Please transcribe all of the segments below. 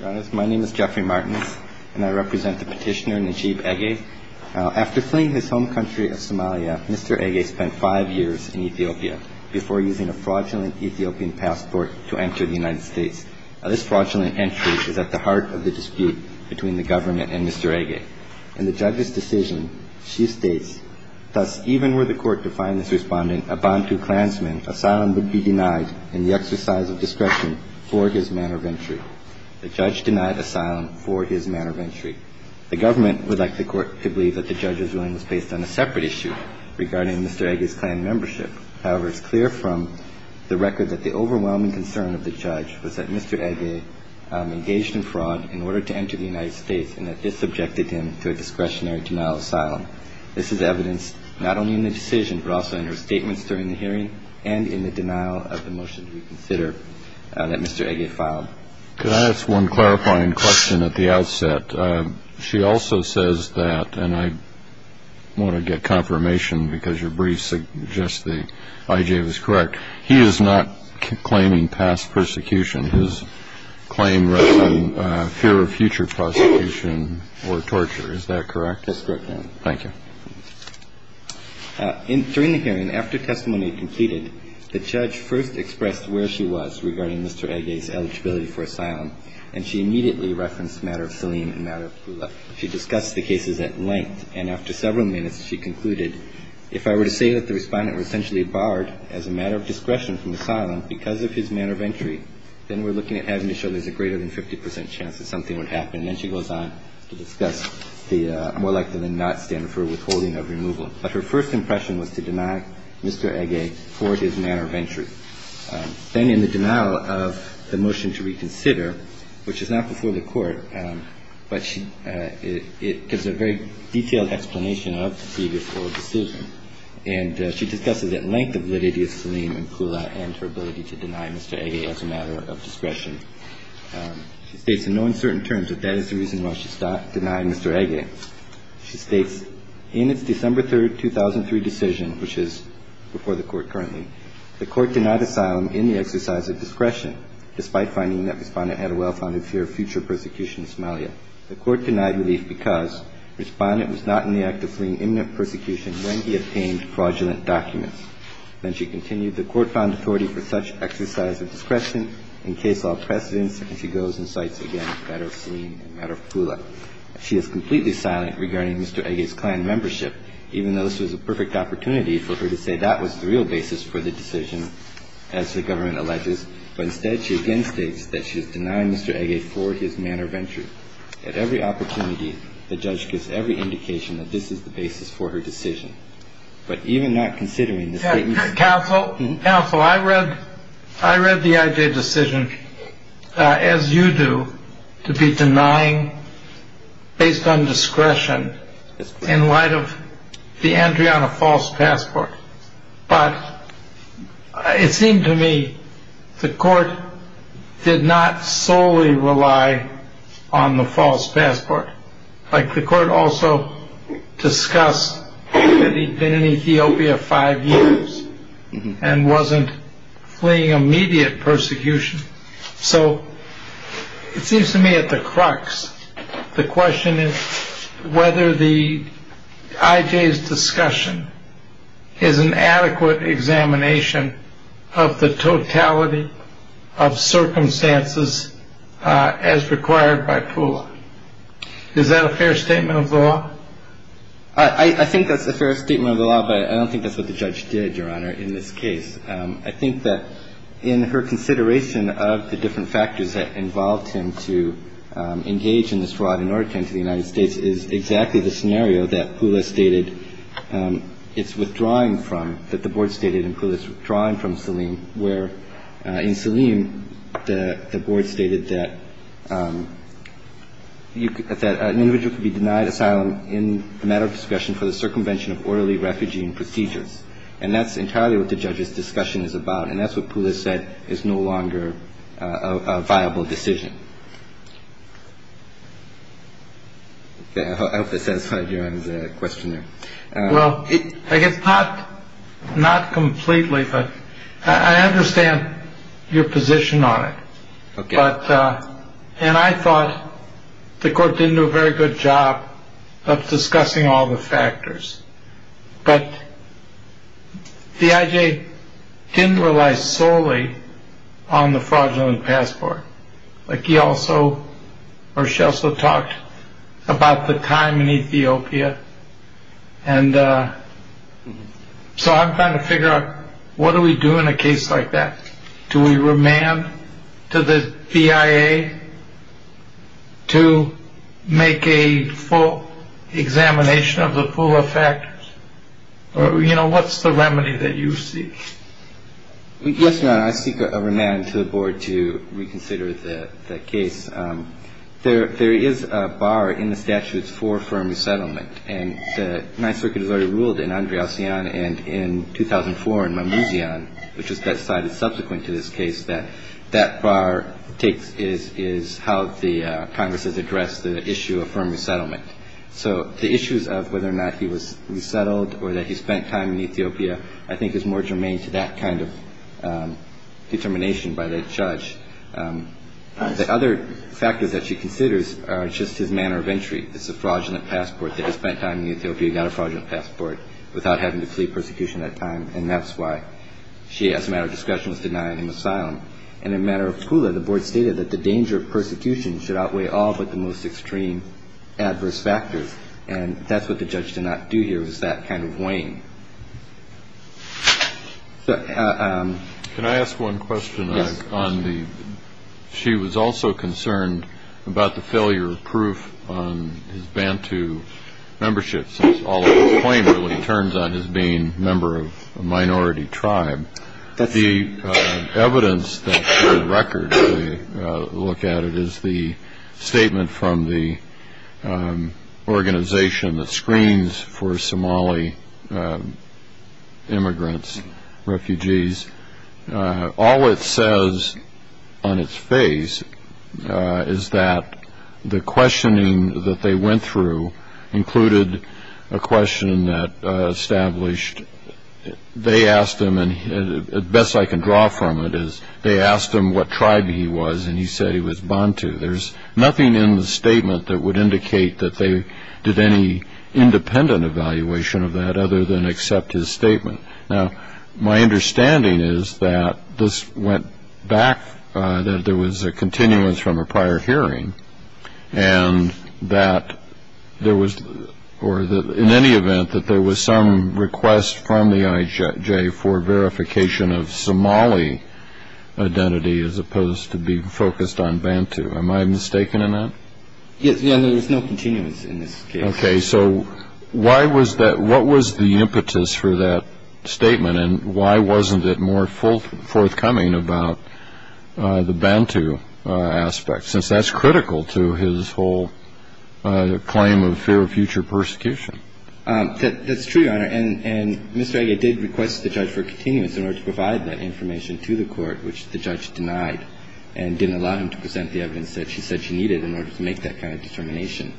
Your Honor, my name is Jeffrey Martins, and I represent the petitioner Najib Egeh. After fleeing his home country of Somalia, Mr. Egeh spent five years in Ethiopia before using a fraudulent Ethiopian passport to enter the United States. This fraudulent entry is at the heart of the dispute between the government and Mr. Egeh. In the judge's decision, she states, Thus, even were the court to find this respondent a Bantu clansman, asylum would be denied in the exercise of discretion for his manner of entry. The judge denied asylum for his manner of entry. The government would like the court to believe that the judge's ruling was based on a separate issue regarding Mr. Egeh's clan membership. However, it's clear from the record that the overwhelming concern of the judge was that Mr. Egeh engaged in fraud in order to enter the United States and that this subjected him to a discretionary denial of asylum. This is evidenced not only in the decision but also in her statements during the hearing and in the denial of the motion to reconsider that Mr. Egeh filed. Could I ask one clarifying question at the outset? She also says that, and I want to get confirmation because your brief suggests that Egeh was correct, he is not claiming past persecution. His claim rests on fear of future prosecution or torture. Is that correct? That's correct, Your Honor. Thank you. During the hearing, after testimony completed, the judge first expressed where she was regarding Mr. Egeh's eligibility for asylum, and she immediately referenced the matter of Selim and the matter of Pula. She discussed the cases at length, and after several minutes she concluded, if I were to say that the respondent was essentially barred as a matter of discretion from asylum because of his manner of entry, then we're looking at having to show there's a greater than 50 percent chance that something would happen. And then she goes on to discuss the more likely than not standard for withholding of removal. But her first impression was to deny Mr. Egeh for his manner of entry. Then in the denial of the motion to reconsider, which is not before the Court, but it gives a very detailed explanation of the previous oral decision, and she discusses at length the validity of Selim and Pula and her ability to deny Mr. Egeh as a matter of discretion. She states in no uncertain terms that that is the reason why she denied Mr. Egeh. She states, in its December 3, 2003 decision, which is before the Court currently, the Court denied asylum in the exercise of discretion, despite finding that Respondent had a well-founded fear of future persecution in Somalia. The Court denied relief because Respondent was not in the act of fleeing imminent persecution when he obtained fraudulent documents. Then she continued, the Court found authority for such exercise of discretion in case law precedence, and she goes and cites again the matter of Selim and the matter of Pula. She is completely silent regarding Mr. Egeh's clan membership, even though this was a perfect opportunity for her to say that was the real basis for the decision, as the government alleges. But instead, she again states that she has denied Mr. Egeh for his manner of entry. At every opportunity, the judge gives every indication that this is the basis for her decision. But even not considering the statement. Counsel, I read the Egeh decision, as you do, to be denying based on discretion in light of the entry on a false passport. But it seemed to me the Court did not solely rely on the false passport. Like the Court also discussed that he'd been in Ethiopia five years and wasn't fleeing immediate persecution. So it seems to me at the crux, the question is whether the Egeh's discussion is an adequate examination of the totality of circumstances as required by Pula. Is that a fair statement of the law? I think that's a fair statement of the law, but I don't think that's what the judge did, Your Honor, in this case. I think that in her consideration of the different factors that involved him to engage in this fraud in Oregon to the United States is exactly the scenario that Pula stated it's withdrawing from, that the board stated in Pula's withdrawing from Selim, where in Selim the board stated that an individual could be denied asylum in the matter of discretion for the circumvention of orderly refugee procedures. And that's entirely what the judge's discussion is about. And that's what Pula said is no longer a viable decision. I hope that satisfied Your Honor's question there. Well, I guess not not completely, but I understand your position on it. And I thought the court didn't do a very good job of discussing all the factors. But the IJ didn't rely solely on the fraudulent passport. Like he also or she also talked about the time in Ethiopia. And so I'm trying to figure out what do we do in a case like that? Do we remand to the BIA to make a full examination of the full effect? You know, what's the remedy that you see? Yes, Your Honor. I seek a remand to the board to reconsider the case. There is a bar in the statutes for firm resettlement. And the Ninth Circuit has already ruled in Andreacion and in 2004 in Mamouzian, which was decided subsequent to this case, that that bar takes is how the Congress has addressed the issue of firm resettlement. So the issues of whether or not he was resettled or that he spent time in Ethiopia, I think is more germane to that kind of determination by the judge. The other factors that she considers are just his manner of entry. It's a fraudulent passport that he spent time in Ethiopia. He got a fraudulent passport without having to plead persecution at that time. And that's why she, as a matter of discretion, was denied him asylum. And in a matter of school, the board stated that the danger of persecution should outweigh all but the most extreme adverse factors. And that's what the judge did not do here, was that kind of wane. Can I ask one question on the – she was also concerned about the failure of proof on his Bantu membership, since all of his claim really turns on his being a member of a minority tribe. The evidence that, for the record, they look at, it is the statement from the organization that screens for Somali immigrants, refugees. All it says on its face is that the questioning that they went through included a question that established that they asked him, and the best I can draw from it is they asked him what tribe he was, and he said he was Bantu. There's nothing in the statement that would indicate that they did any independent evaluation of that other than accept his statement. Now, my understanding is that this went back, that there was a continuance from a prior hearing, and that there was – or in any event, that there was some request from the IJ for verification of Somali identity as opposed to being focused on Bantu. Am I mistaken in that? Yes, there was no continuance in this case. Okay, so why was that – what was the impetus for that statement, and why wasn't it more forthcoming about the Bantu aspect, since that's critical to his whole claim of fear of future persecution? That's true, Your Honor. And Mr. Ege did request the judge for a continuance in order to provide that information to the court, which the judge denied and didn't allow him to present the evidence that she said she needed in order to make that kind of determination.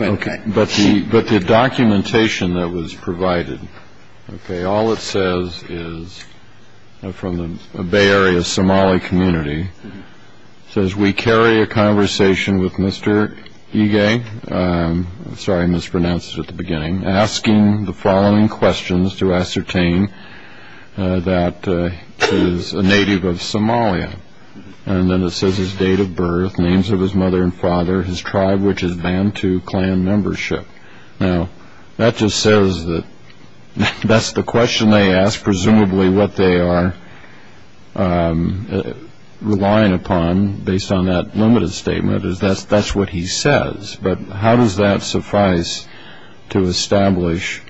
Okay, but the documentation that was provided, okay, all it says is, from the Bay Area Somali community, it says, we carry a conversation with Mr. Ege – sorry, I mispronounced it at the beginning – asking the following questions to ascertain that he is a native of Somalia. And then it says his date of birth, names of his mother and father, his tribe, which is Bantu clan membership. Now, that just says that that's the question they ask, presumably what they are relying upon, based on that limited statement, is that's what he says. But how does that suffice to establish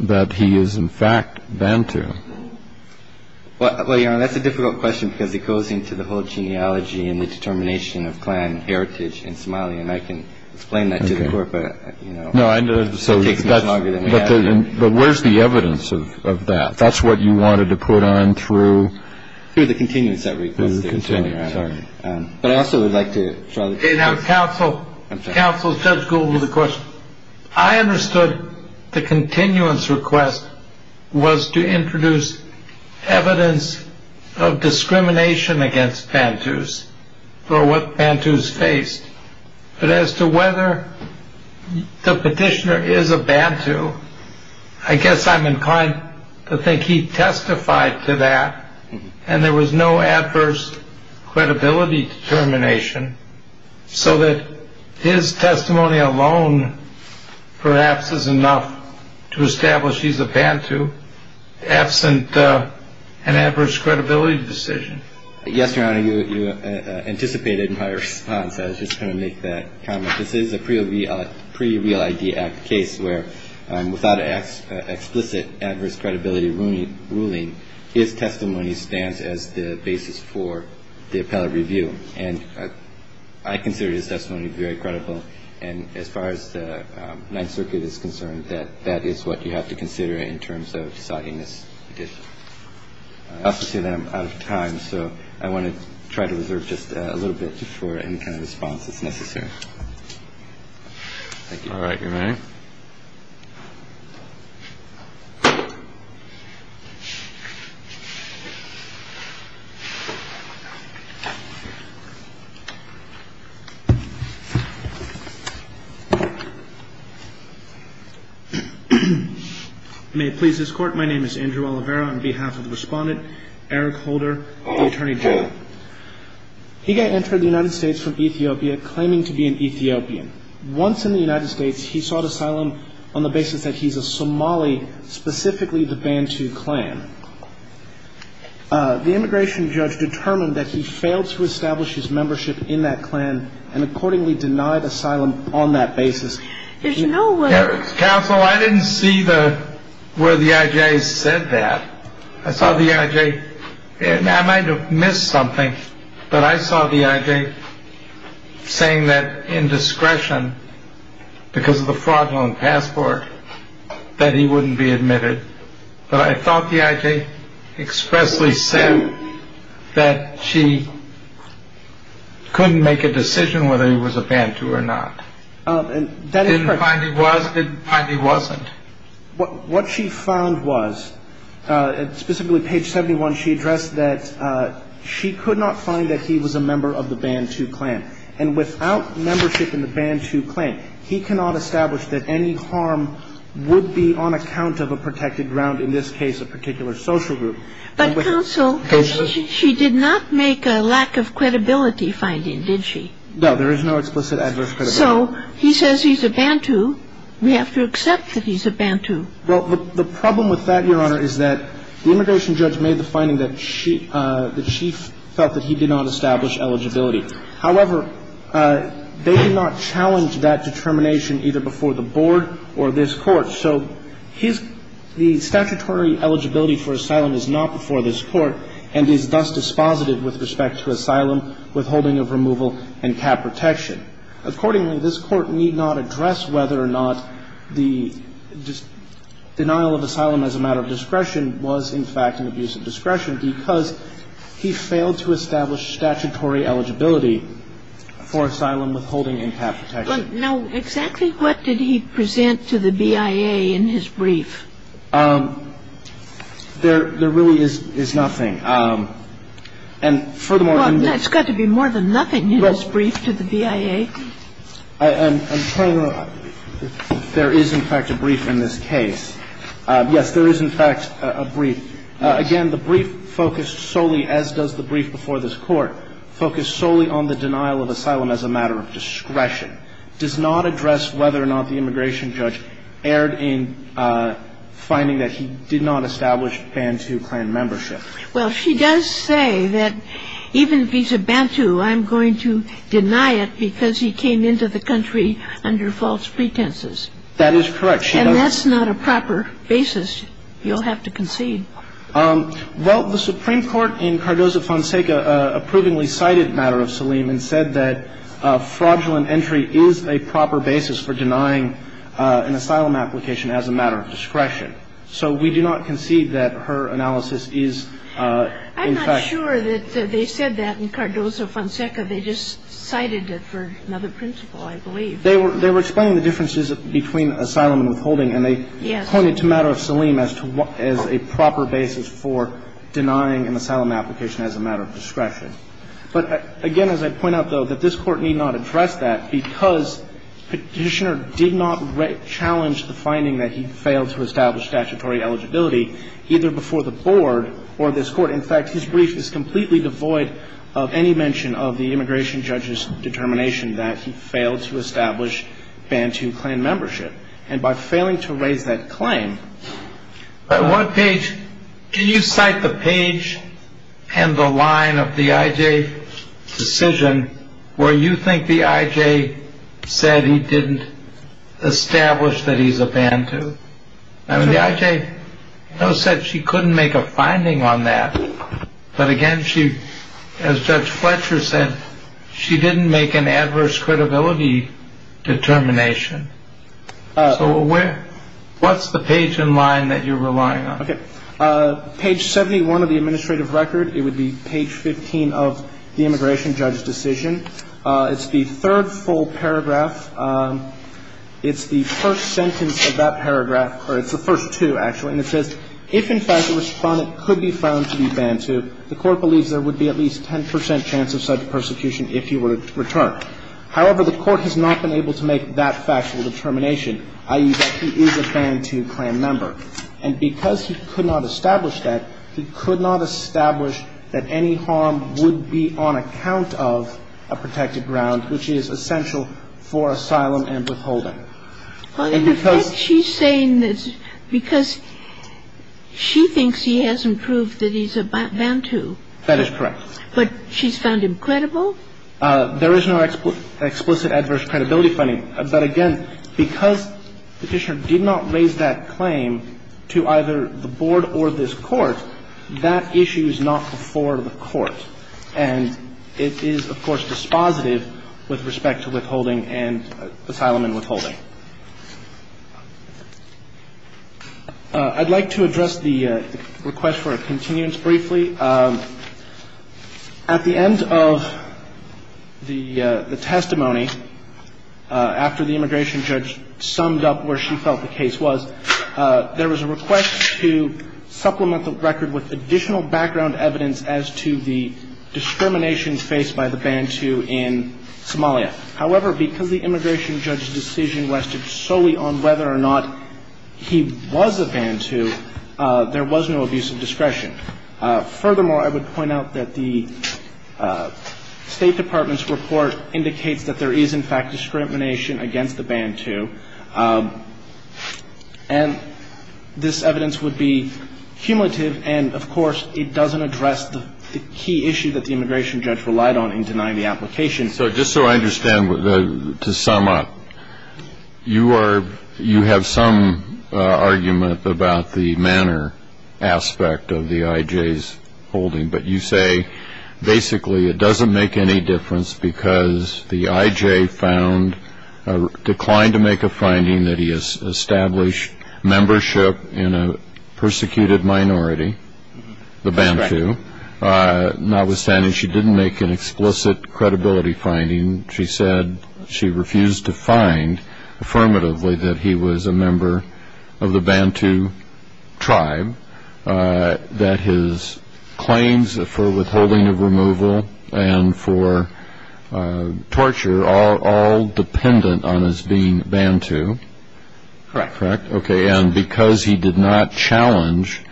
that he is, in fact, Bantu? Well, Your Honor, that's a difficult question because it goes into the whole genealogy and the determination of clan heritage in Somalia. And I can explain that to the court, but, you know, it takes much longer than that. But where's the evidence of that? That's what you wanted to put on through? Through the continuance I requested. Through the continuance, sorry. But I also would like to draw the – Counsel, Counsel, Judge Gould with a question. I understood the continuance request was to introduce evidence of discrimination against Bantus for what Bantus faced. But as to whether the petitioner is a Bantu, I guess I'm inclined to think he testified to that and there was no adverse credibility determination, so that his testimony alone perhaps is enough to establish he's a Bantu, absent an adverse credibility decision. Yes, Your Honor, you anticipated my response. I was just going to make that comment. This is a pre-Real ID Act case where without an explicit adverse credibility ruling, his testimony stands as the basis for the appellate review. And I consider his testimony very credible. And as far as the Ninth Circuit is concerned, that is what you have to consider in terms of deciding this petition. I also see that I'm out of time, so I want to try to reserve just a little bit for any kind of response that's necessary. Thank you. All right. You're ready? You may please escort. My name is Andrew Oliveira. On behalf of the respondent, Eric Holder, the attorney general. He entered the United States from Ethiopia claiming to be an Ethiopian. Once in the United States, he sought asylum on the basis that he's a Somali, specifically the Bantu clan. The immigration judge determined that he failed to establish his membership in that clan and accordingly denied asylum on that basis. There's no way. Counsel, I didn't see where the I.J. said that. I saw the I.J. And I might have missed something, but I saw the I.J. saying that in discretion because of the fraudulent passport, that he wouldn't be admitted. But I thought the I.J. expressly said that she couldn't make a decision whether he was a Bantu or not. Didn't find he was, didn't find he wasn't. What she found was, specifically page 71, she addressed that she could not find that he was a member of the Bantu clan. And without membership in the Bantu clan, he cannot establish that any harm would be on account of a protected ground, in this case a particular social group. But, counsel, she did not make a lack of credibility finding, did she? No, there is no explicit adverse credibility. So he says he's a Bantu. We have to accept that he's a Bantu. Well, the problem with that, Your Honor, is that the immigration judge made the finding that she, the chief felt that he did not establish eligibility. However, they did not challenge that determination either before the board or this Court. So his, the statutory eligibility for asylum is not before this Court and is thus dispositive with respect to asylum, withholding of removal, and cap protection. Accordingly, this Court need not address whether or not the denial of asylum as a matter of discretion was in fact an abuse of discretion because he failed to establish statutory eligibility for asylum, withholding, and cap protection. Now, exactly what did he present to the BIA in his brief? There really is nothing. And furthermore, in this Brief to the BIA. Well, it's got to be more than nothing in this brief to the BIA. I'm trying to go. There is, in fact, a brief in this case. Yes, there is, in fact, a brief. Again, the brief focused solely, as does the brief before this Court, focused solely on the denial of asylum as a matter of discretion, and the fact that the BIA does not address whether or not the immigration judge erred in finding that he did not establish Bantu clan membership. Well, she does say that even vis-à-vis Bantu, I'm going to deny it because he came into the country under false pretenses. That is correct. And that's not a proper basis you'll have to concede. Well, the Supreme Court in Cardozo-Fonseca approvingly cited the matter of Salim and said that fraudulent entry is a proper basis for denying an asylum application as a matter of discretion. So we do not concede that her analysis is, in fact. I'm not sure that they said that in Cardozo-Fonseca. They just cited it for another principle, I believe. They were explaining the differences between asylum and withholding. Yes. And they pointed to the matter of Salim as a proper basis for denying an asylum application as a matter of discretion. But, again, as I point out, though, that this Court need not address that because Petitioner did not challenge the finding that he failed to establish statutory eligibility either before the Board or this Court. In fact, his brief is completely devoid of any mention of the immigration judge's determination that he failed to establish Bantu clan membership. And by failing to raise that claim. What page? Can you cite the page and the line of the I.J. decision where you think the I.J. said he didn't establish that he's a Bantu? I mean, the I.J. said she couldn't make a finding on that. But, again, she, as Judge Fletcher said, she didn't make an adverse credibility determination. So where? What's the page and line that you're relying on? Okay. Page 71 of the administrative record. It would be page 15 of the immigration judge's decision. It's the third full paragraph. It's the first sentence of that paragraph, or it's the first two, actually. And it says, if, in fact, the Respondent could be found to be Bantu, the Court believes there would be at least 10 percent chance of such persecution if he were to return. However, the Court has not been able to make that factual determination, i.e. that he is a Bantu clan member. And because he could not establish that, he could not establish that any harm would be on account of a protected ground, which is essential for asylum and withholding. In effect, she's saying that because she thinks he hasn't proved that he's a Bantu. That is correct. But she's found him credible? There is no explicit adverse credibility finding. But, again, because Petitioner did not raise that claim to either the Board or this Court, that issue is not before the Court. And it is, of course, dispositive with respect to withholding and asylum and withholding. I'd like to address the request for a continuance briefly. At the end of the testimony, after the immigration judge summed up where she felt the case was, there was a request to supplement the record with additional background evidence as to the discrimination faced by the Bantu in Somalia. However, because the immigration judge's decision rested solely on whether or not he was a Bantu, there was no abuse of discretion. Furthermore, I would point out that the State Department's report indicates that there is, in fact, discrimination against the Bantu. And this evidence would be cumulative. And, of course, it doesn't address the key issue that the immigration judge relied on in denying the application. So just so I understand, to sum up, you are you have some argument about the manner aspect of the I.J.'s holding. But you say basically it doesn't make any difference because the I.J. found declined to make a finding that he established membership in a persecuted minority, the Bantu. That's correct. What you're saying is she didn't make an explicit credibility finding. She said she refused to find affirmatively that he was a member of the Bantu tribe, that his claims for withholding of removal and for torture are all dependent on his being Bantu. Correct. Okay. And because he did not challenge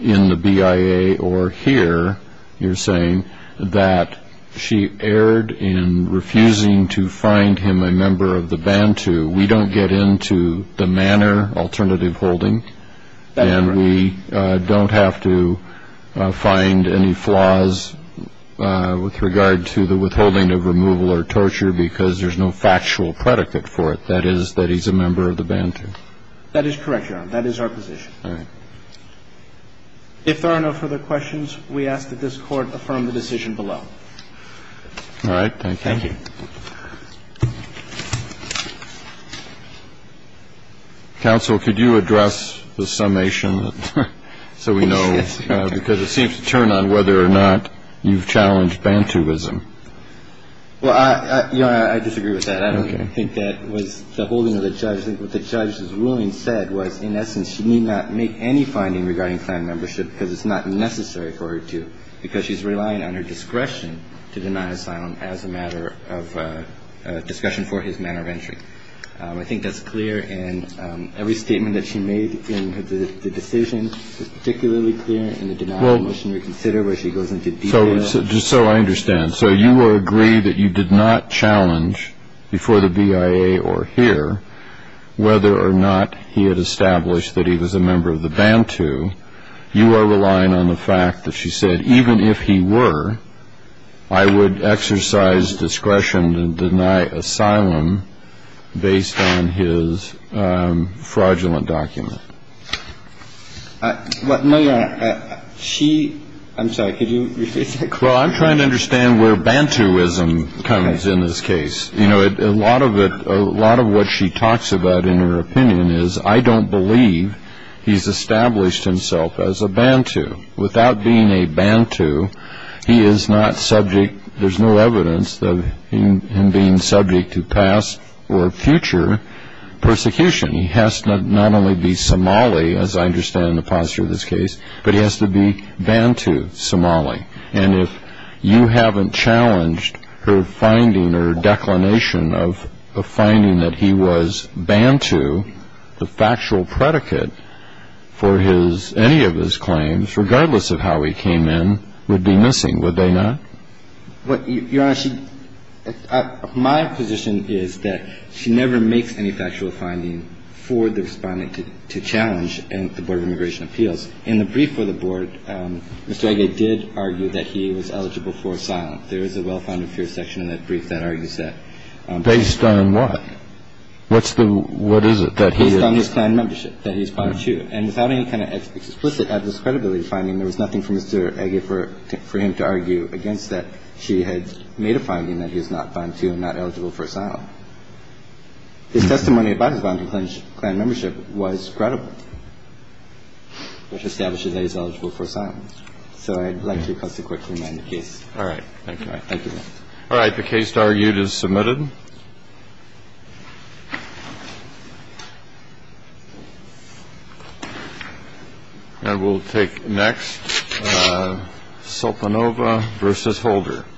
in the BIA or here, you're saying, that she erred in refusing to find him a member of the Bantu, we don't get into the manner alternative holding. That's correct. And we don't have to find any flaws with regard to the withholding of removal or torture because there's no factual predicate for it, that is, that he's a member of the Bantu. That is correct, Your Honor. That is our position. All right. If there are no further questions, we ask that this Court affirm the decision below. All right. Thank you. Thank you. Counsel, could you address the summation so we know, because it seems to turn on whether or not you've challenged Bantuism. Well, I disagree with that. Okay. I think that was the holding of the judge. I think what the judge's ruling said was, in essence, she need not make any finding regarding clan membership because it's not necessary for her to because she's relying on her discretion to deny asylum as a matter of discussion for his manner of entry. I think that's clear. And every statement that she made in the decision is particularly clear in the denial of mission reconsider where she goes into detail. Just so I understand. So you agree that you did not challenge before the BIA or here whether or not he had established that he was a member of the Bantu. You are relying on the fact that she said, even if he were, I would exercise discretion to deny asylum based on his fraudulent document. No, Your Honor. She, I'm sorry, could you repeat that? Well, I'm trying to understand where Bantuism comes in this case. You know, a lot of what she talks about in her opinion is, I don't believe he's established himself as a Bantu. Without being a Bantu, he is not subject, there's no evidence of him being subject to past or future persecution. He has to not only be Somali, as I understand the posture of this case, but he has to be Bantu Somali. And if you haven't challenged her finding or declination of the finding that he was Bantu, the factual predicate for his, any of his claims, regardless of how he came in, would be missing, would they not? Your Honor, my position is that she never makes any factual finding for the Respondent to challenge the Board of Immigration Appeals. In the brief for the Board, Mr. Age did argue that he was eligible for asylum. There is a well-founded fear section in that brief that argues that. Based on what? What's the, what is it that he is? Based on his clan membership, that he is Bantu. And without any kind of explicit, adverse credibility finding, there was nothing for Mr. Age for him to argue against that she had made a finding that he is not Bantu and not eligible for asylum. His testimony about his Bantu clan membership was credible. So I would like to quickly remind the case. All right. Thank you. Thank you. All right. The case argued is submitted. And we'll take next, Solanova v. Holder.